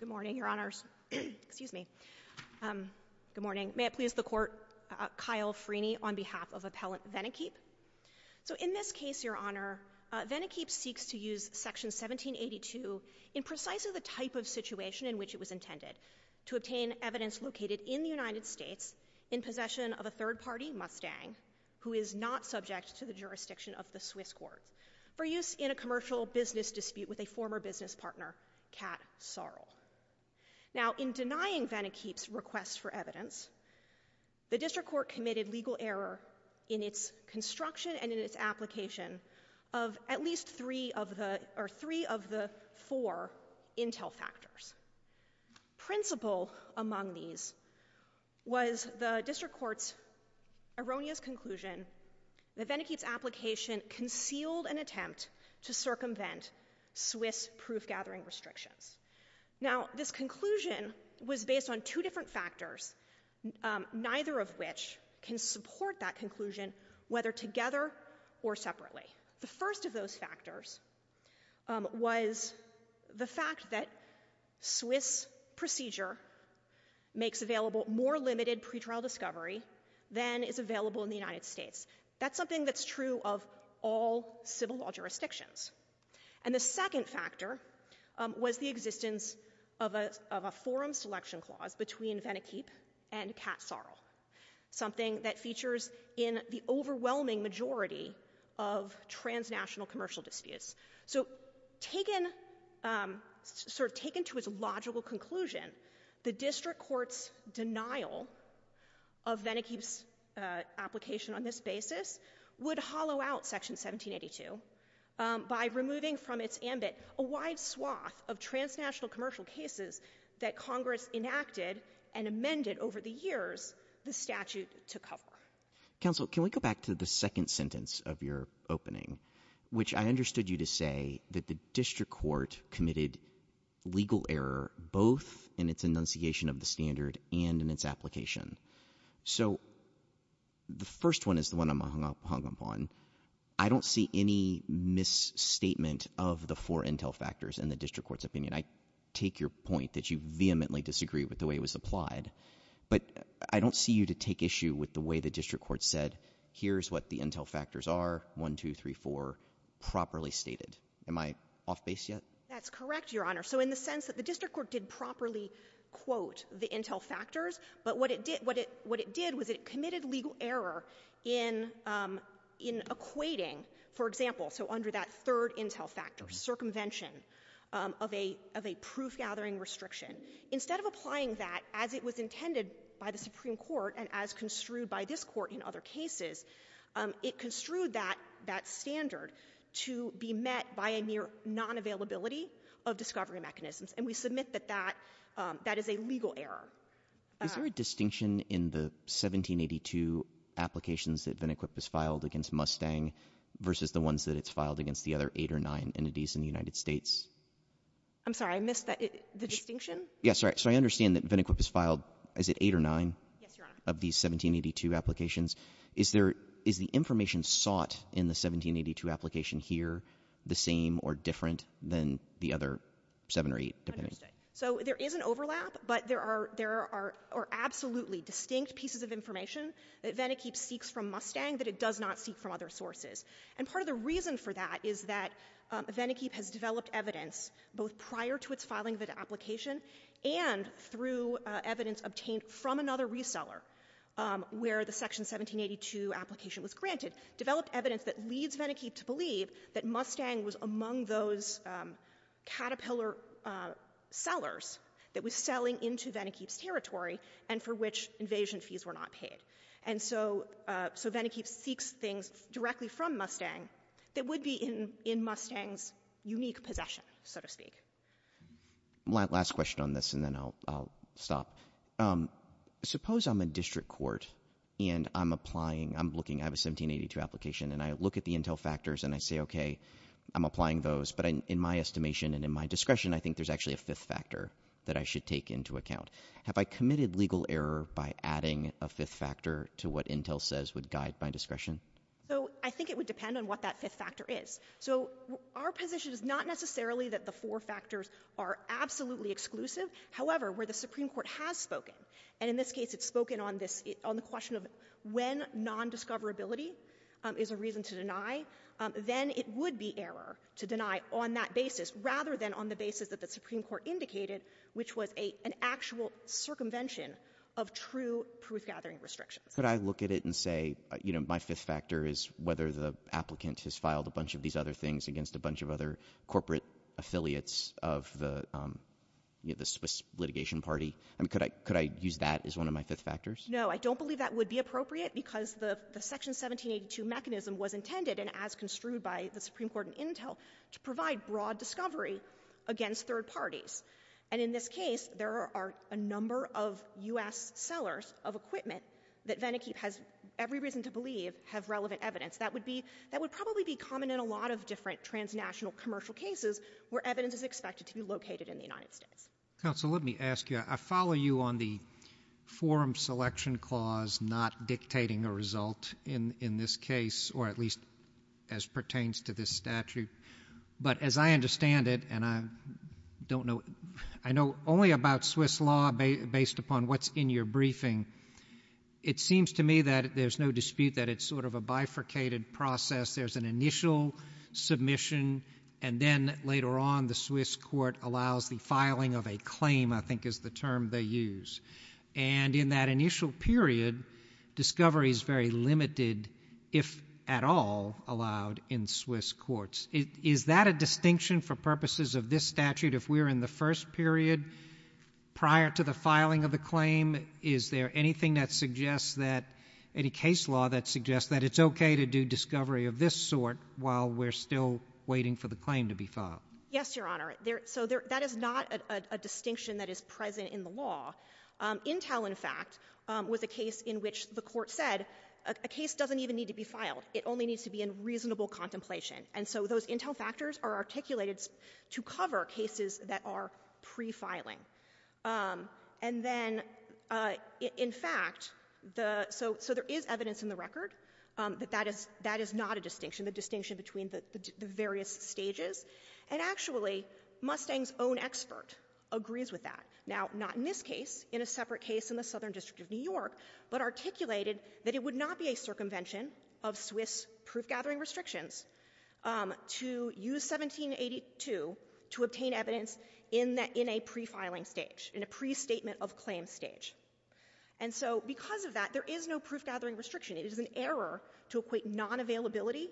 Good morning, Your Honors. Excuse me. Good morning. May it please the Court, Kyle Freeney on behalf of Appellant Venequip. So in this case, Your Honor, Venequip seeks to use Section 1782 in precisely the type of situation in which it was intended to obtain evidence located in the United States in possession of a third-party Mustang who is not subject to the jurisdiction of the Swiss courts for use in a commercial business dispute with a former business partner, Kat Sorrell. Now in denying Venequip's request for evidence, the District Court committed legal error in its construction and in its application of at least three of the or three of the four intel factors. Principal among these was the District Court's erroneous conclusion that Venequip's application concealed an attempt to circumvent Swiss proof-gathering restrictions. Now this conclusion was based on two different factors, neither of which can support that conclusion whether together or separately. The first of those factors was the fact that Swiss procedure makes available more limited pretrial discovery than is available in the United States. That's something that's true of all civil law jurisdictions. And the second factor was the existence of a forum selection clause between Venequip and Kat Sorrell, something that features in the overwhelming majority of transnational commercial disputes. So taken to its logical conclusion, the District Court's denial of Venequip's request for evidence would hollow out Section 1782 by removing from its ambit a wide swath of transnational commercial cases that Congress enacted and amended over the years the statute to cover. Counsel, can we go back to the second sentence of your opening, which I understood you to say that the District Court committed legal error both in its enunciation of the standard and in its application. So the first one is the one I'm hung up on. I don't see any misstatement of the four intel factors in the District Court's opinion. I take your point that you vehemently disagree with the way it was applied. But I don't see you to take issue with the way the District Court said, here's what the intel factors are, 1, 2, 3, 4, properly stated. Am I off base yet? That's correct, Your Honor. So in the sense that the District Court did properly quote the intel factors, but what it did was it committed legal error in equating, for example, so under that third intel factor, circumvention of a proof-gathering restriction. Instead of applying that as it was intended by the Supreme Court and as construed by this Court in other cases, it construed that standard to be met by a near non-availability of discovery mechanisms. And we submit that that is a legal error. Is there a distinction in the 1782 applications that Venequip has filed against Mustang versus the ones that it's filed against the other eight or nine entities in the United States? I'm sorry. I missed the distinction? Yes. So I understand that Venequip has filed, is it eight or nine? Yes, Your Honor. Of these 1782 applications. Is the information sought in the 1782 application here the same or different than the other seven or eight, depending? Understood. So there is an overlap, but there are absolutely distinct pieces of information that Venequip seeks from Mustang that it does not seek from other sources. And part of the reason for that is that Venequip has developed evidence both prior to its filing of the application and through evidence obtained from another reseller where the Section 1782 application was granted, developed evidence that leads Venequip to believe that Mustang was among those Caterpillar sellers that was selling into Venequip's territory and for which invasion fees were not paid. And so Venequip seeks things directly from Mustang that would be in Mustang's unique possession, so to speak. Last question on this and then I'll stop. Suppose I'm a district court and I'm applying, I'm looking at a 1782 application and I look at the intel factors and I say, okay, I'm applying those. But in my estimation and in my discretion, I think there's actually a fifth factor that I should take into account. Have I committed legal error by adding a fifth factor to what intel says would guide my discretion? So I think it would depend on what that fifth factor is. So our position is not necessarily that the four factors are absolutely exclusive. However, where the Supreme Court has spoken, and in this case it's spoken on the question of when nondiscoverability is a reason to deny, then it would be error to deny on that basis rather than on the basis that the Supreme Court indicated, which was an actual circumvention of true proof-gathering restrictions. Could I look at it and say, you know, my fifth factor is whether the applicant has filed a bunch of these other things against a bunch of other corporate affiliates of the, you know, the Swiss litigation party? I mean, could I use that as one of my fifth factors? No, I don't believe that would be appropriate because the Section 1782 mechanism was intended, and as construed by the Supreme Court in intel, to provide broad discovery against third parties. And in this case, there are a number of U.S. sellers of equipment that Venikeep has every reason to believe have relevant evidence. That would be — that would probably be common in a lot of different transnational commercial cases where evidence is expected to be located in the United States. Counsel, let me ask you. I follow you on the forum selection clause not dictating a result in this case, or at least as pertains to this statute. But as I understand it, and I don't know — I know only about Swiss law based upon what's in your briefing. It seems to me that there's no dispute that it's sort of a bifurcated process. There's an initial submission, and then later on the Swiss court allows the filing of a claim, I think is the term they use. And in that initial period, discovery is very limited if at all allowed in Swiss courts. Is that a distinction for purposes of this statute? If we're in the first period prior to the filing of the claim, is there anything that suggests that — any case law that suggests that it's okay to do discovery of this sort while we're still waiting for the claim to be filed? Yes, Your Honor. So that is not a distinction that is present in the law. Intel, in fact, was a case in which the court said a case doesn't even need to be filed. It only needs to be in reasonable contemplation. And so those Intel factors are articulated to cover cases that are pre-filing. And then, in fact, the — so there is evidence in the record that that is not a distinction, the distinction between the various stages. And actually, Mustang's own expert agrees with that. Now, not in this case, in a separate case in the Southern District of New York, but articulated that it would not be a circumvention of Swiss proof-gathering restrictions to use 1782 to obtain evidence in a pre-filing stage, in a pre-statement of claim stage. And so because of that, there is no proof-gathering restriction. It is an error to equate non-availability,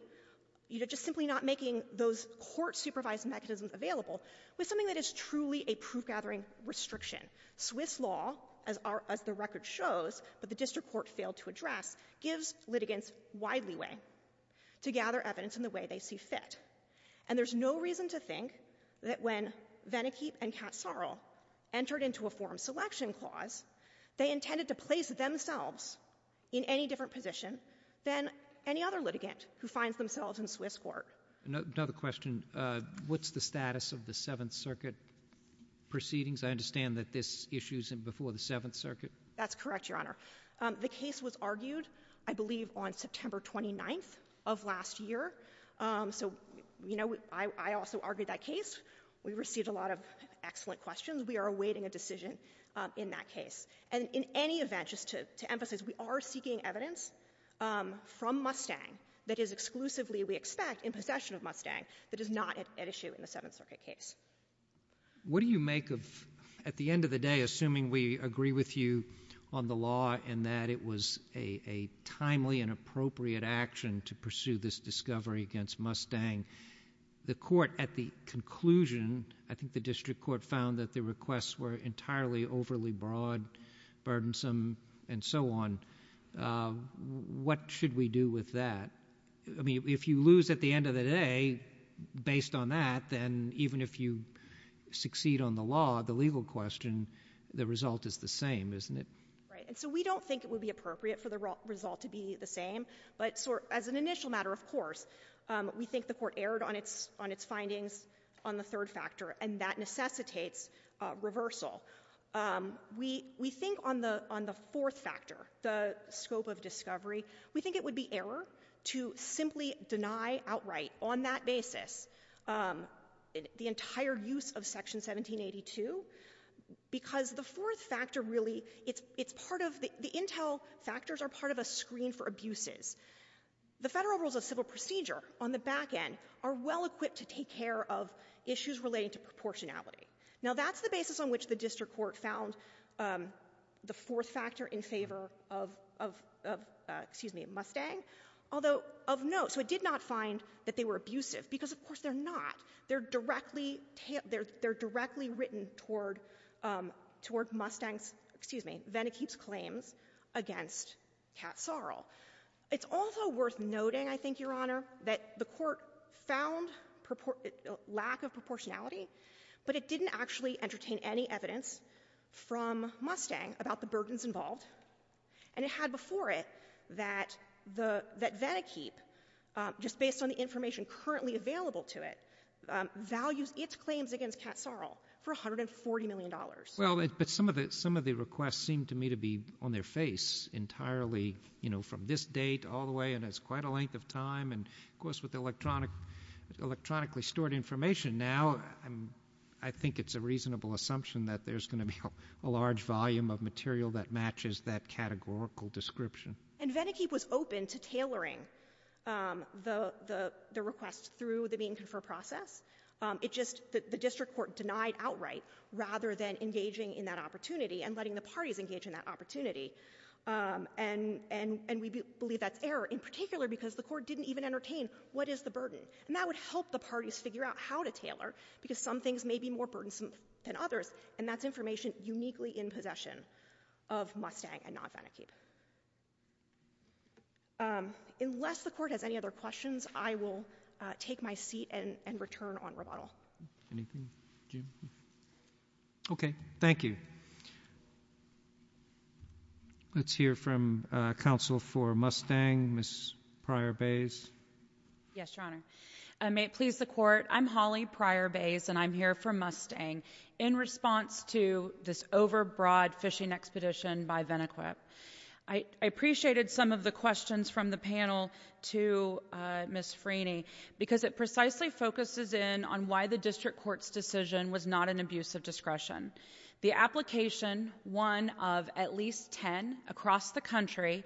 you know, just simply not making those court-supervised mechanisms available, with something that is truly a proof-gathering restriction. Swiss law, as the record shows, but the district court failed to address, gives litigants wide leeway to gather evidence in the way they see fit. And there's no reason to think that when Vannekeep and Count Sorrell entered into a form selection clause, they intended to place themselves in any different position than any other litigant who finds themselves in Swiss court. Another question. What's the status of the Seventh Circuit proceedings? I understand that this issues before the Seventh Circuit. That's correct, Your Honor. The case was argued, I believe, on September 29th of last year. So, you know, I also argued that case. We received a lot of excellent questions. We are awaiting a decision in that case. And in any event, just to emphasize, we are seeking evidence from Mustang that is exclusively, we expect, in possession of Mustang, that is not at issue in the Seventh Circuit case. What do you make of, at the end of the day, assuming we agree with you on the law and that it was a timely and appropriate action to pursue this discovery against Mustang? The court, at the conclusion, I think the district court found that the requests were entirely overly broad, burdensome, and so on. What should we do with that? I mean, if you lose at the end of the day, based on that, then even if you succeed on the law, the legal question, the result is the same, isn't it? Right. And so we don't think it would be appropriate for the result to be the same. But as an initial matter, of course, we think the court erred on its findings on the third factor, and that necessitates reversal. We think on the fourth factor, the scope of discovery, we think it would be error to simply deny outright, on that basis, the entire use of Section 1782, because the fourth factor really, the intel factors are part of a screen for abuses. The federal rules of civil procedure, on the back end, are well-equipped to take care of issues relating to proportionality. Now, that's the basis on which the district court found the fourth factor in favor of Mustang, although of note, so it did not find that they were abusive, because of course they're not. They're directly written toward Mustang's, excuse me, Venikeep's claims against Kat Sarle. It's also worth noting, I think, Your Honor, that the court found lack of proportionality, but it didn't actually entertain any evidence from Mustang about the burdens involved. And it had before it that Venikeep, just based on the information currently available to it, values its claims against Kat Sarle for $140 million. Well, but some of the requests seem to me to be on their face entirely, you know, from this date all the way, and it's quite a length of time, and of course with the electronically stored information now, I think it's a reasonable assumption that there's going to be a large volume of material that matches that categorical description. And Venikeep was open to tailoring the request through the mean confer process. It just, the district court denied outright, rather than engaging in that opportunity and letting the parties engage in that opportunity. And we believe that's error, in particular, because the court didn't even entertain what is the burden. And that would help the parties figure out how to tailor, because some things may be more burdensome than others, and that's information uniquely in possession of Mustang and not Venikeep. Unless the court has any other questions, I will take my seat and return on rebuttal. Anything, Jim? Okay, thank you. Let's hear from counsel for Mustang, Ms. Pryor-Bays. Yes, Your Honor. May it please the court, I'm Holly Pryor-Bays, and I'm here for Mustang. In response to this overbroad fishing expedition by Venikeep, I appreciated some of the questions from the panel to Ms. Freeney, because it precisely focuses in on why the district court's decision was not an abuse of discretion. The application, one of at least ten across the country,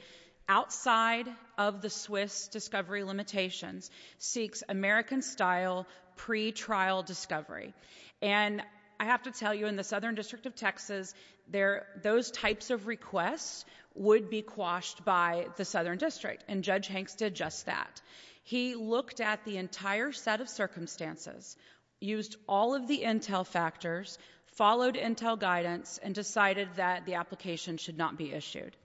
outside of the Swiss discovery limitations, seeks American-style pretrial discovery. And I have to tell you, in the Southern District of Texas, those types of requests would be quashed by the Southern District, and Judge Hanks did just that. He looked at the entire set of circumstances, used all of the intel factors, followed intel guidance, and decided that the application should not be issued.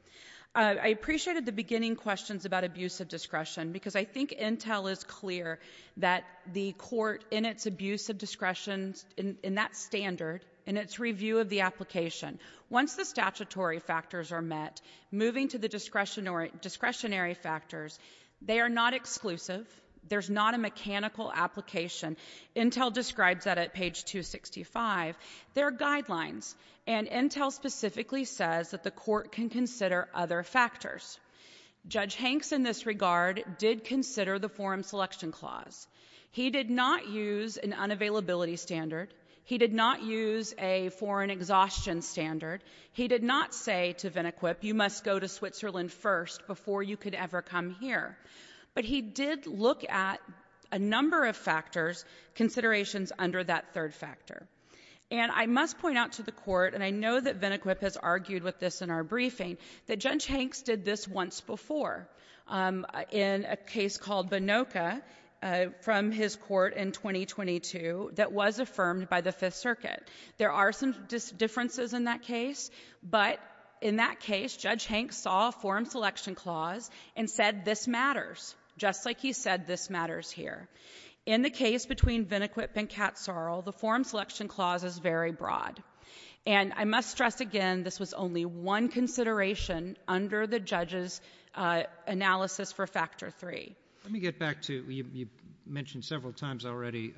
I appreciated the beginning questions about abuse of discretion, because I think intel is clear that the court, in its abuse of discretion, in that standard, in its review of the application, once the statutory factors are met, moving to the discretionary factors, they are not exclusive. There's not a mechanical application. Intel describes that at page 265. There are guidelines, and intel specifically says that the court can consider other factors. Judge Hanks, in this regard, did consider the Forum Selection Clause. He did not use an unavailability standard. He did not use a foreign exhaustion standard. He did not say to Venequip, you must go to Switzerland first before you could ever come here. But he did look at a number of factors, considerations under that third factor. And I must point out to the court, and I know that Venequip has argued with this in our briefing, that Judge Hanks did this once before, in a case called Bonocca, from his court in 2022, that was affirmed by the Fifth Circuit. There are some differences in that case, but in that case, Judge Hanks saw a Forum Selection Clause and said this matters, just like he said this matters here. In the case between Venequip and Katzoril, the Forum Selection Clause is very broad. And I must stress again, this was only one consideration under the judge's analysis for Factor III. Let me get back to, you mentioned several times already,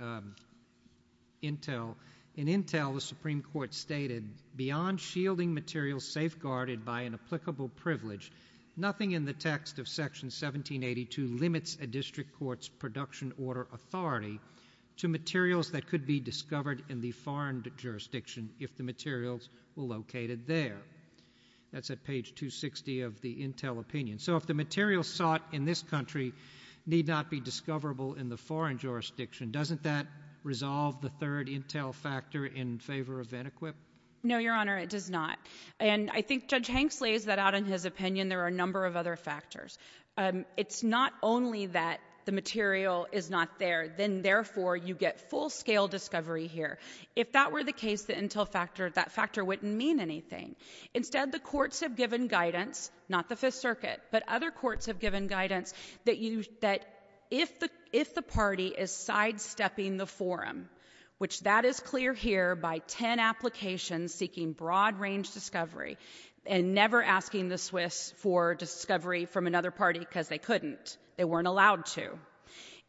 Intel. In Intel, the Supreme Court stated, beyond shielding materials safeguarded by an applicable privilege, nothing in the text of Section 1782 limits a district court's production order authority to materials that could be discovered in the foreign jurisdiction if the materials were located there. That's at page 260 of the Intel opinion. So if the materials sought in this country need not be discoverable in the foreign jurisdiction, doesn't that resolve the third Intel factor in favor of Venequip? No, Your Honor, it does not. And I think Judge Hanks lays that out in his opinion. There are a number of other factors. It's not only that the material is not there, then therefore you get full-scale discovery here. If that were the case, that factor wouldn't mean anything. Instead, the courts have given guidance, not the Fifth Circuit, but other courts have given guidance that if the party is sidestepping the forum, which that is clear here by ten applications seeking broad-range discovery and never asking the Swiss for discovery from another party because they couldn't, they weren't allowed to.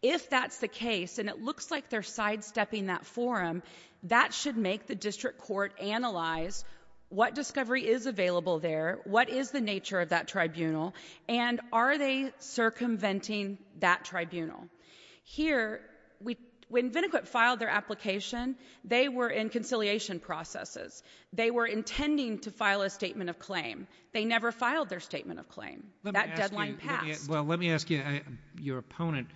If that's the case and it looks like they're sidestepping that forum, that should make the district court analyze what discovery is available there, what is the nature of that tribunal, and are they circumventing that tribunal? Here, when Venequip filed their application, they were in conciliation processes. They were intending to file a statement of claim. They never filed their statement of claim. That deadline passed. Well, let me ask you, your opponent,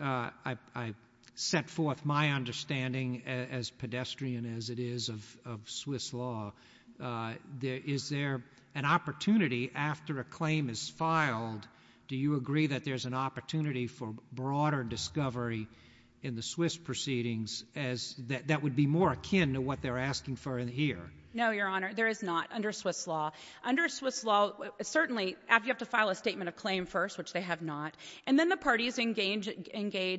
I set forth my understanding, as pedestrian as it is, of Swiss law. Is there an opportunity after a claim is filed, do you agree that there's an opportunity for broader discovery in the Swiss proceedings that would be more akin to what they're asking for here? No, Your Honor, there is not under Swiss law. Under Swiss law, certainly, you have to file a statement of claim first, which they have not, and then the parties engage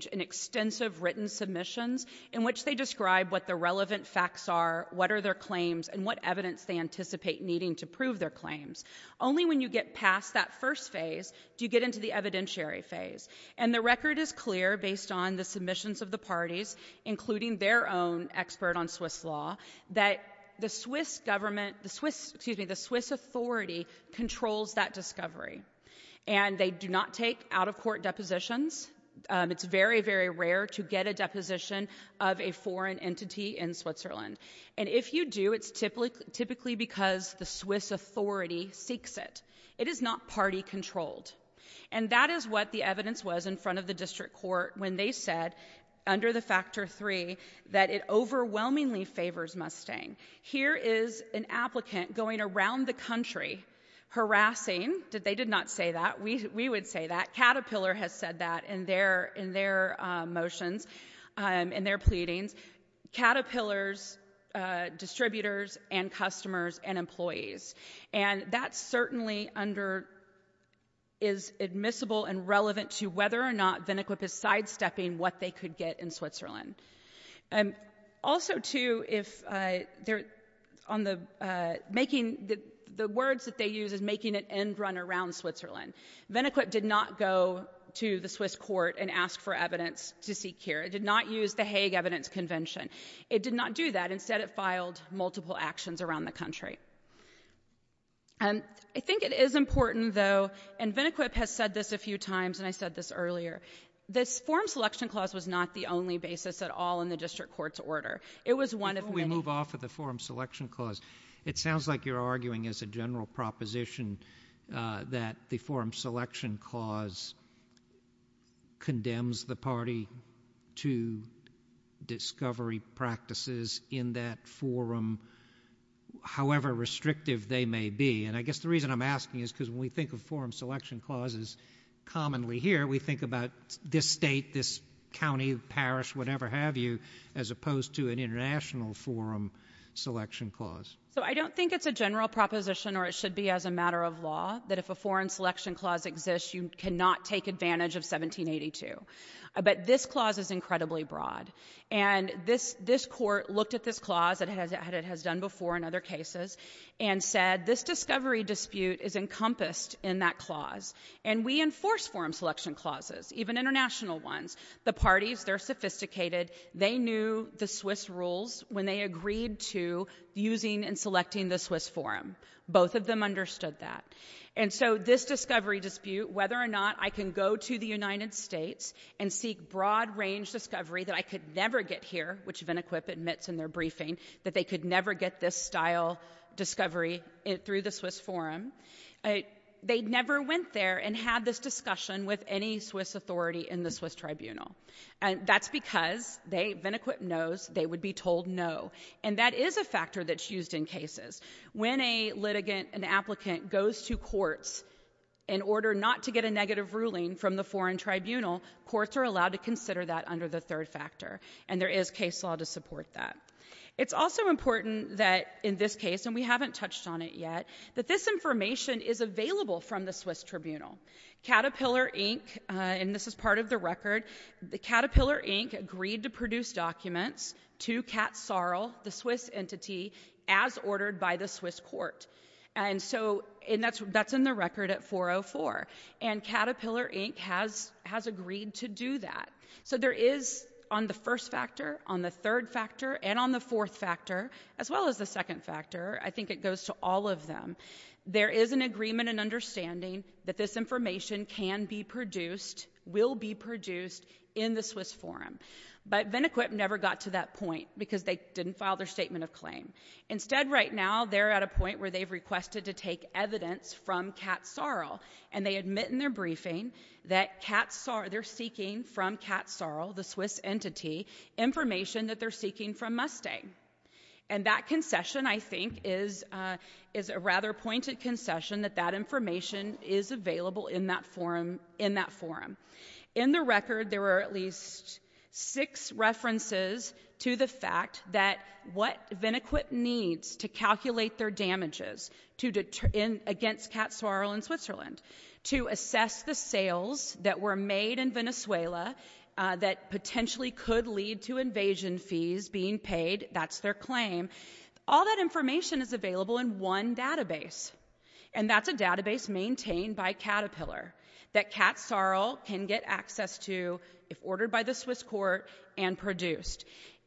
in extensive written submissions in which they describe what the relevant facts are, what are their claims, and what evidence they anticipate needing to prove their claims. Only when you get past that first phase do you get into the evidentiary phase, and the record is clear based on the submissions of the parties, including their own expert on Swiss law, that the Swiss government, excuse me, the Swiss authority controls that discovery. And they do not take out-of-court depositions. It's very, very rare to get a deposition of a foreign entity in Switzerland. And if you do, it's typically because the Swiss authority seeks it. It is not party-controlled. And that is what the evidence was in front of the district court when they said, under the Factor III, that it overwhelmingly favors Mustang. Here is an applicant going around the country harassing... They did not say that. We would say that. Caterpillar has said that in their motions, in their pleadings. Caterpillar's distributors and customers and employees. And that's certainly under... is admissible and relevant to whether or not Also, too, if they're on the... making... the words that they use is making an end run around Switzerland. Venequip did not go to the Swiss court and ask for evidence to seek here. It did not use the Hague Evidence Convention. It did not do that. Instead, it filed multiple actions around the country. I think it is important, though, and Venequip has said this a few times, and I said this earlier, this Forum Selection Clause was not the only basis at all in the district court's order. Before we move off of the Forum Selection Clause, it sounds like you're arguing as a general proposition that the Forum Selection Clause condemns the party to discovery practices in that forum, however restrictive they may be. And I guess the reason I'm asking is because when we think of Forum Selection Clauses commonly here, we think about this state, this county, parish, whatever have you, as opposed to an International Forum Selection Clause. So I don't think it's a general proposition, or it should be as a matter of law, that if a Foreign Selection Clause exists, you cannot take advantage of 1782. But this clause is incredibly broad. And this court looked at this clause, as it has done before in other cases, and said this discovery dispute is encompassed in that clause, and we enforce Forum Selection Clauses, even international ones. The parties, they're sophisticated. They knew the Swiss rules when they agreed to using and selecting the Swiss Forum. Both of them understood that. And so this discovery dispute, whether or not I can go to the United States and seek broad-range discovery that I could never get here, which Venequip admits in their briefing, that they could never get this style discovery through the Swiss Forum, they never went there and had this discussion with any Swiss authority in the Swiss Tribunal. That's because, Venequip knows, they would be told no. And that is a factor that's used in cases. When a litigant, an applicant, goes to courts in order not to get a negative ruling from the foreign tribunal, courts are allowed to consider that under the third factor. And there is case law to support that. It's also important that, in this case, and we haven't touched on it yet, that this information is available from the Swiss Tribunal. Caterpillar, Inc. And this is part of the record. Caterpillar, Inc. agreed to produce documents to Kat Sarl, the Swiss entity, as ordered by the Swiss court. And so that's in the record at 404. And Caterpillar, Inc. has agreed to do that. So there is, on the first factor, on the third factor, and on the fourth factor, as well as the second factor, I think it goes to all of them, there is an agreement and understanding that this information can be produced, will be produced, in the Swiss forum. But Venequip never got to that point because they didn't file their statement of claim. Instead, right now, they're at a point where they've requested to take evidence from Kat Sarl, and they admit in their briefing that they're seeking from Kat Sarl, the Swiss entity, information that they're seeking from Mustang. And that concession, I think, is a rather pointed concession that that information is available in that forum. In the record, there were at least six references to the fact that what Venequip needs to calculate their damages against Kat Sarl in Switzerland to assess the sales that were made in Venezuela that potentially could lead to invasion fees being paid, that's their claim. All that information is available in one database, and that's a database maintained by Caterpillar that Kat Sarl can get access to if ordered by the Swiss court and produced.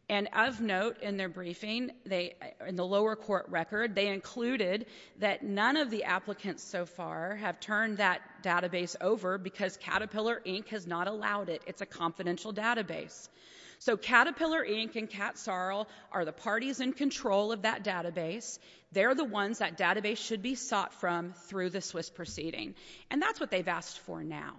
And of note in their briefing, in the lower court record, they included that none of the applicants so far have turned that database over because Caterpillar Inc. has not allowed it. It's a confidential database. So Caterpillar Inc. and Kat Sarl are the parties in control of that database. They're the ones that database should be sought from through the Swiss proceeding, and that's what they've asked for now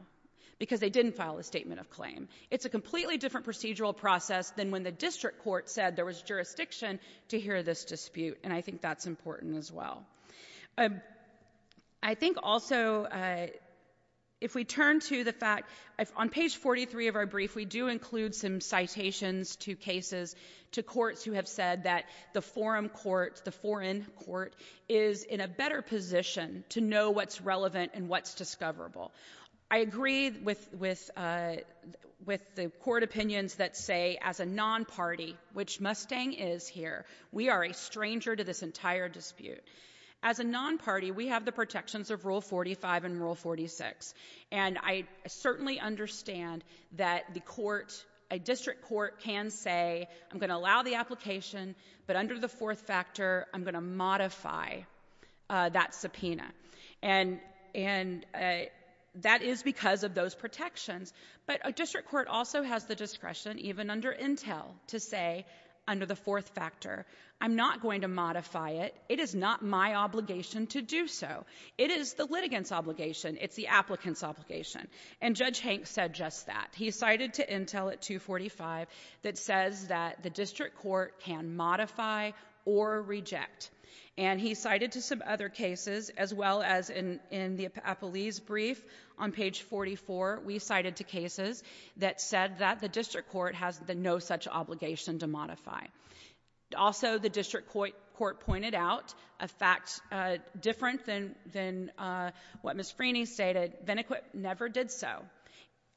because they didn't file a statement of claim. It's a completely different procedural process than when the district court said there was jurisdiction to hear this dispute, and I think that's important as well. I think also if we turn to the fact... On page 43 of our brief, we do include some citations to cases, to courts who have said that the forum court, the foreign court, is in a better position to know what's relevant and what's discoverable. I agree with the court opinions that say as a non-party, which Mustang is here, we are a stranger to this entire dispute. As a non-party, we have the protections of Rule 45 and Rule 46, and I certainly understand that a district court can say, I'm going to allow the application, but under the fourth factor, I'm going to modify that subpoena. And that is because of those protections, but a district court also has the discretion, even under Intel, to say under the fourth factor, I'm not going to modify it. It is not my obligation to do so. It is the litigant's obligation. It's the applicant's obligation. And Judge Hank said just that. He cited to Intel at 245 that says that the district court can modify or reject. And he cited to some other cases, as well as in the Appellee's brief on page 44, we cited to cases that said that the district court has no such obligation to modify. Also, the district court pointed out a fact different than what Ms. Freeney stated. Venequip never did so.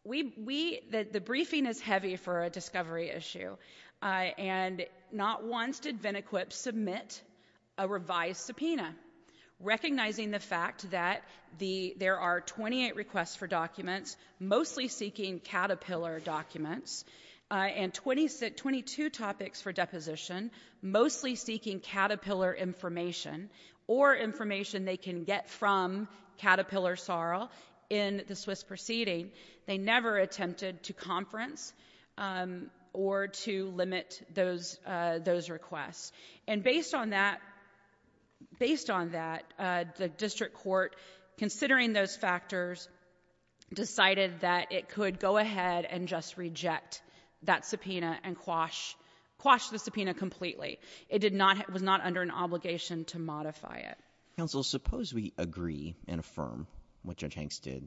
The briefing is heavy for a discovery issue, and not once did Venequip submit a revised subpoena, recognizing the fact that there are 28 requests for documents, mostly seeking Caterpillar documents, and 22 topics for deposition, mostly seeking Caterpillar information, or information they can get from Caterpillar Sorrel in the Swiss proceeding. They never attempted to conference or to limit those requests. And based on that, the district court, considering those factors, decided that it could go ahead and just reject that subpoena and quash the subpoena completely. It was not under an obligation to modify it. Counsel, suppose we agree and affirm what Judge Hanks did.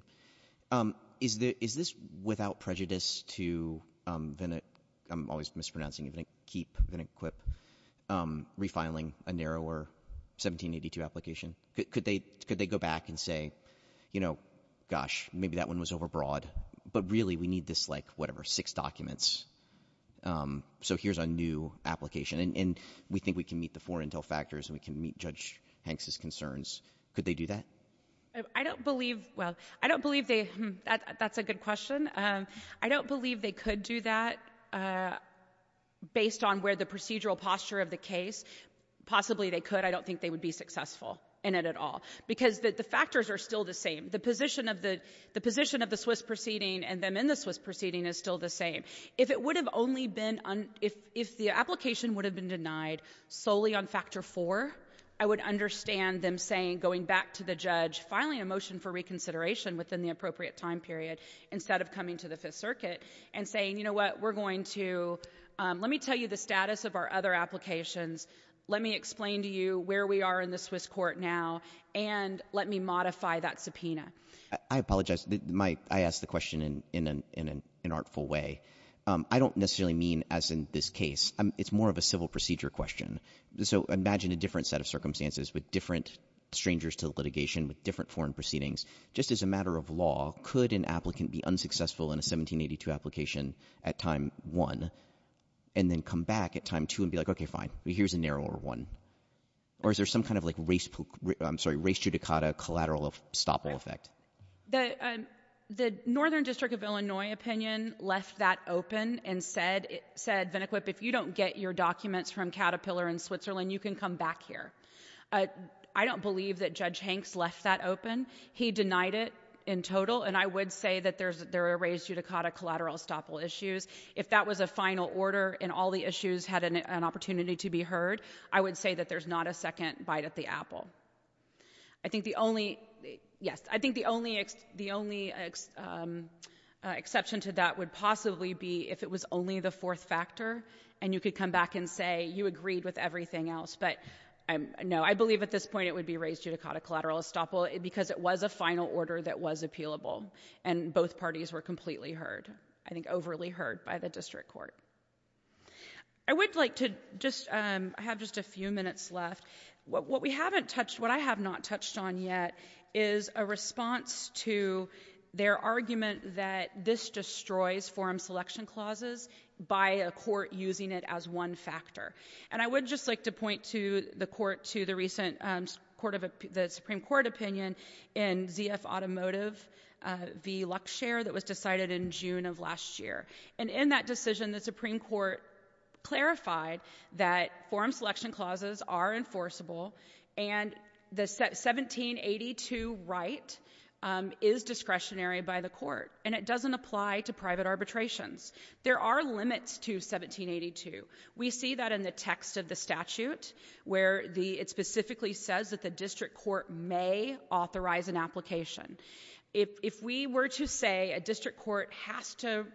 Is this without prejudice to Vene... I'm always mispronouncing it, keep Venequip refiling a narrower 1782 application? Could they go back and say, you know, gosh, maybe that one was overbroad, but really we need this, like, whatever, six documents. So here's our new application, and we think we can meet the four intel factors and we can meet Judge Hanks' concerns. Could they do that? I don't believe... Well, I don't believe they... That's a good question. I don't believe they could do that based on where the procedural posture of the case... Possibly they could. I don't think they would be successful in it at all, because the factors are still the same. The position of the Swiss proceeding and them in the Swiss proceeding is still the same. If it would have only been... If the application would have been denied solely on factor 4, I would understand them saying, going back to the judge, filing a motion for reconsideration within the appropriate time period instead of coming to the Fifth Circuit and saying, you know what, we're going to... Let me tell you the status of our other applications, let me explain to you where we are in the Swiss court now, and let me modify that subpoena. I apologize. I asked the question in an artful way. I don't necessarily mean as in this case. It's more of a civil procedure question. So imagine a different set of circumstances with different strangers to litigation, with different foreign proceedings. Just as a matter of law, could an applicant be unsuccessful in a 1782 application at time 1 and then come back at time 2 and be like, okay, fine, here's a narrower one? Or is there some kind of like race... I'm sorry, race judicata collateral estoppel effect? The Northern District of Illinois opinion left that open and said, if you don't get your documents from Caterpillar in Switzerland, you can come back here. I don't believe that Judge Hanks left that open. He denied it in total, and I would say that there are race judicata collateral estoppel issues. If that was a final order and all the issues had an opportunity to be heard, I would say that there's not a second bite at the apple. I think the only... Yes, I think the only exception to that would possibly be if it was only the fourth factor and you could come back and say you agreed with everything else. But, no, I believe at this point it would be race judicata collateral estoppel because it was a final order that was appealable, and both parties were completely heard, I think overly heard by the district court. I would like to just... I have just a few minutes left. What we haven't touched, what I have not touched on yet is a response to their argument that this destroys forum selection clauses by a court using it as one factor. And I would just like to point to the court, to the recent Supreme Court opinion in ZF Automotive v. LuxShare that was decided in June of last year. And in that decision, the Supreme Court clarified that forum selection clauses are enforceable and the 1782 right is discretionary by the court, and it doesn't apply to private arbitrations. There are limits to 1782. We see that in the text of the statute where it specifically says that the district court may authorize an application. If we were to say a district court has to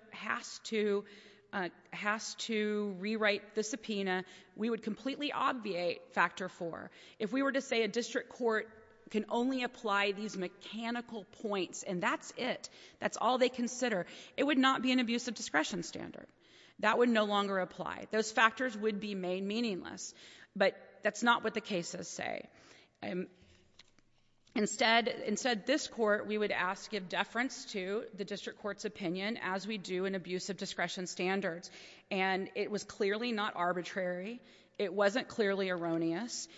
rewrite the subpoena, we would completely obviate Factor 4. If we were to say a district court can only apply these mechanical points, and that's it, that's all they consider, it would not be an abusive discretion standard. That would no longer apply. Those factors would be made meaningless. But that's not what the cases say. Instead, this court, we would ask to give deference to the district court's opinion as we do in abusive discretion standards. And it was clearly not arbitrary. It wasn't clearly erroneous.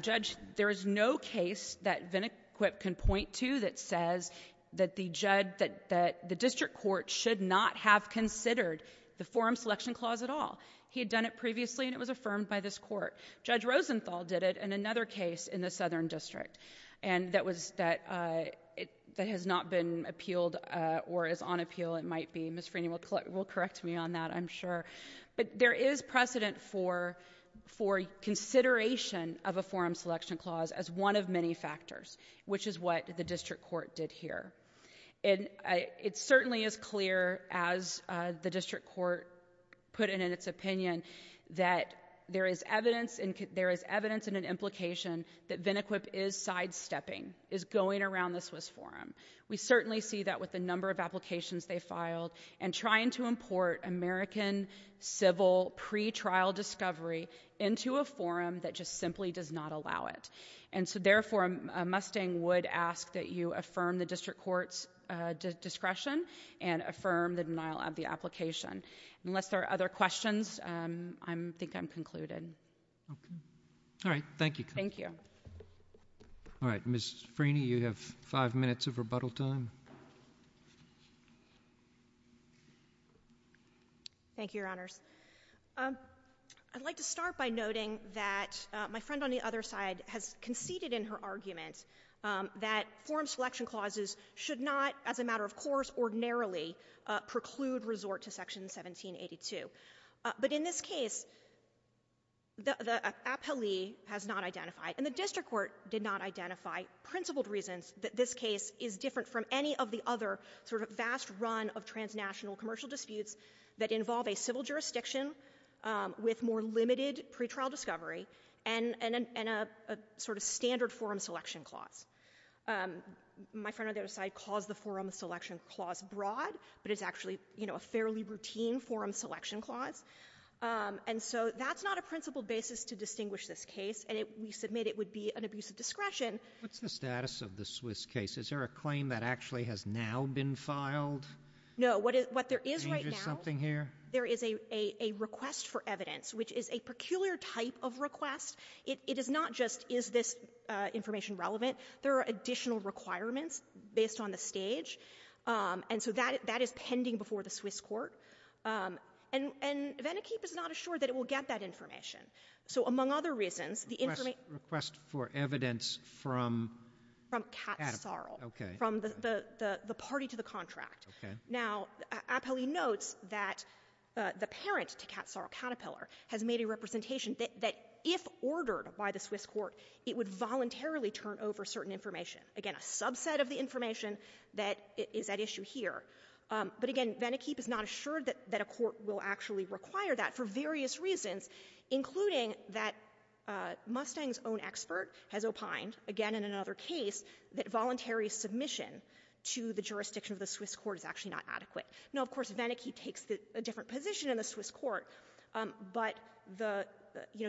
Judge, there is no case that Vinniquip can point to that says that the district court should not have considered the forum selection clause at all. He had done it previously, and it was affirmed by this court. Judge Rosenthal did it in another case in the Southern District, and that has not been appealed, or is on appeal, it might be. Ms. Freeney will correct me on that, I'm sure. But there is precedent for consideration of a forum selection clause as one of many factors, which is what the district court did here. And it certainly is clear, as the district court put it in its opinion, that there is evidence in an implication that Vinniquip is sidestepping, is going around the Swiss forum. We certainly see that with the number of applications they filed and trying to import American civil pretrial discovery into a forum that just simply does not allow it. And so, therefore, a Mustang would ask that you affirm the district court's discretion and affirm the denial of the application. Unless there are other questions, I think I'm concluded. Okay. All right, thank you. Thank you. All right, Ms. Freeney, you have five minutes of rebuttal time. Thank you, Your Honors. I'd like to start by noting that my friend on the other side has conceded in her argument that forum selection clauses should not, as a matter of course, ordinarily preclude resort to Section 1782. But in this case, the appellee has not identified, and the district court did not identify, principled reasons that this case is different from any of the other sort of vast run of transnational commercial disputes that involve a civil jurisdiction with more limited pretrial discovery and a sort of standard forum selection clause. My friend on the other side calls the forum selection clause broad, but it's actually, you know, a fairly routine forum selection clause. And so that's not a principled basis to distinguish this case, and we submit it would be an abuse of discretion. What's the status of the Swiss case? Is there a claim that actually has now been filed? No, what there is right now... Is there something here? There is a request for evidence, which is a peculiar type of request. It is not just, is this information relevant? There are additional requirements based on the stage. And so that is pending before the Swiss court. And Venikeep is not assured that it will get that information. So among other reasons, the information... Request for evidence from Caterpillar. From Kat Sarl, from the party to the contract. Now, appellee notes that the parent to Kat Sarl Caterpillar has made a representation that if ordered by the Swiss court, it would voluntarily turn over certain information, again, a subset of the information that is at issue here. But again, Venikeep is not assured that a court will actually require that for various reasons, including that Mustang's own expert has opined, again, in another case, that voluntary submission to the jurisdiction of the Swiss court is actually not adequate. Now, of course, Venikeep takes a different position in the Swiss court, but the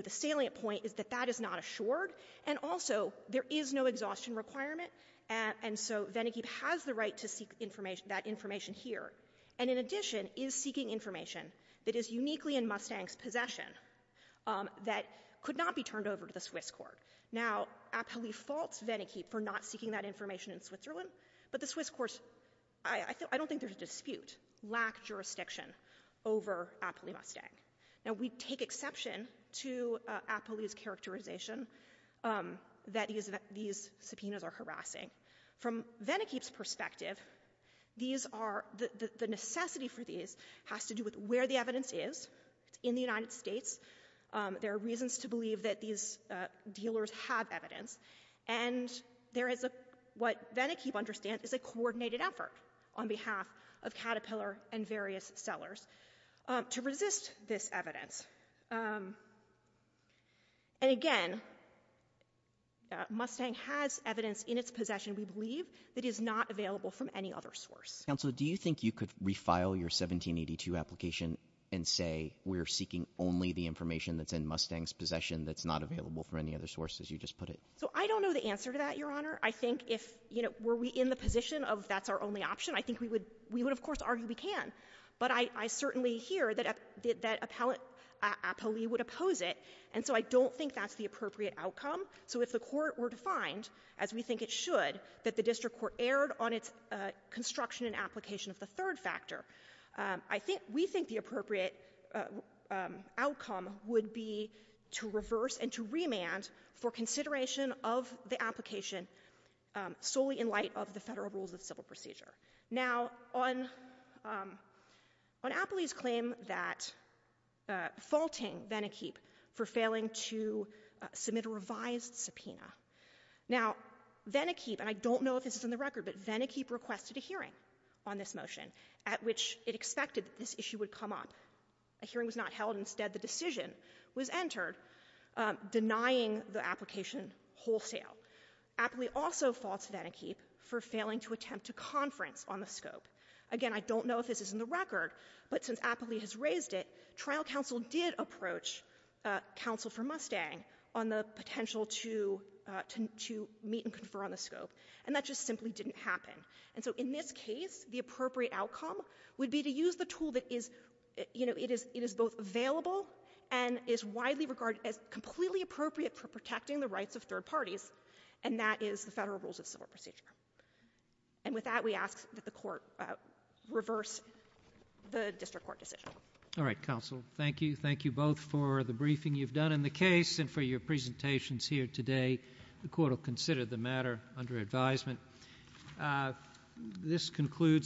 salient point is that that is not assured, and also, there is no exhaustion requirement, and so Venikeep has the right to seek that information here. And in addition, is seeking information that is uniquely in Mustang's possession that could not be turned over to the Swiss court. Now, appellee faults Venikeep for not seeking that information in Switzerland, but the Swiss courts, I don't think there's a dispute, lack jurisdiction over appellee Mustang. Now, we take exception to appellee's characterization that these subpoenas are harassing. From Venikeep's perspective, the necessity for these has to do with where the evidence is. It's in the United States. There are reasons to believe that these dealers have evidence, and what Venikeep understands is a coordinated effort on behalf of Caterpillar and various sellers to resist this evidence. And again, Mustang has evidence in its possession, we believe, that is not available from any other source. Counsel, do you think you could refile your 1782 application and say we're seeking only the information that's in Mustang's possession that's not available from any other source, as you just put it? So I don't know the answer to that, Your Honor. I think if, you know, were we in the position of that's our only option, I think we would, of course, argue we can. But I certainly hear that appellee would oppose it, and so I don't think that's the appropriate outcome. So if the court were to find, as we think it should, that the district court erred on its construction and application of the third factor, I think we think the appropriate outcome would be to reverse and to remand for consideration of the application solely in light of the federal rules of civil procedure. Now, on appellee's claim that, faulting Venikeep for failing to submit a revised subpoena, now, Venikeep, and I don't know if this is on the record, but Venikeep requested a hearing on this motion at which it expected that this issue would come up. A hearing was not held. Instead, the decision was entered denying the application wholesale. Appellee also faults Venikeep for failing to attempt to conference on the scope. Again, I don't know if this is in the record, but since appellee has raised it, trial counsel did approach counsel for Mustang on the potential to meet and confer on the scope, and that just simply didn't happen. And so in this case, the appropriate outcome would be to use the tool that is... You know, it is both available and is widely regarded as completely appropriate for protecting the rights of third parties, and that is the Federal Rules of Civil Procedure. And with that, we ask that the court reverse the district court decision. All right, counsel. Thank you. Thank you both for the briefing you've done in the case and for your presentations here today. The court will consider the matter under advisement. This concludes...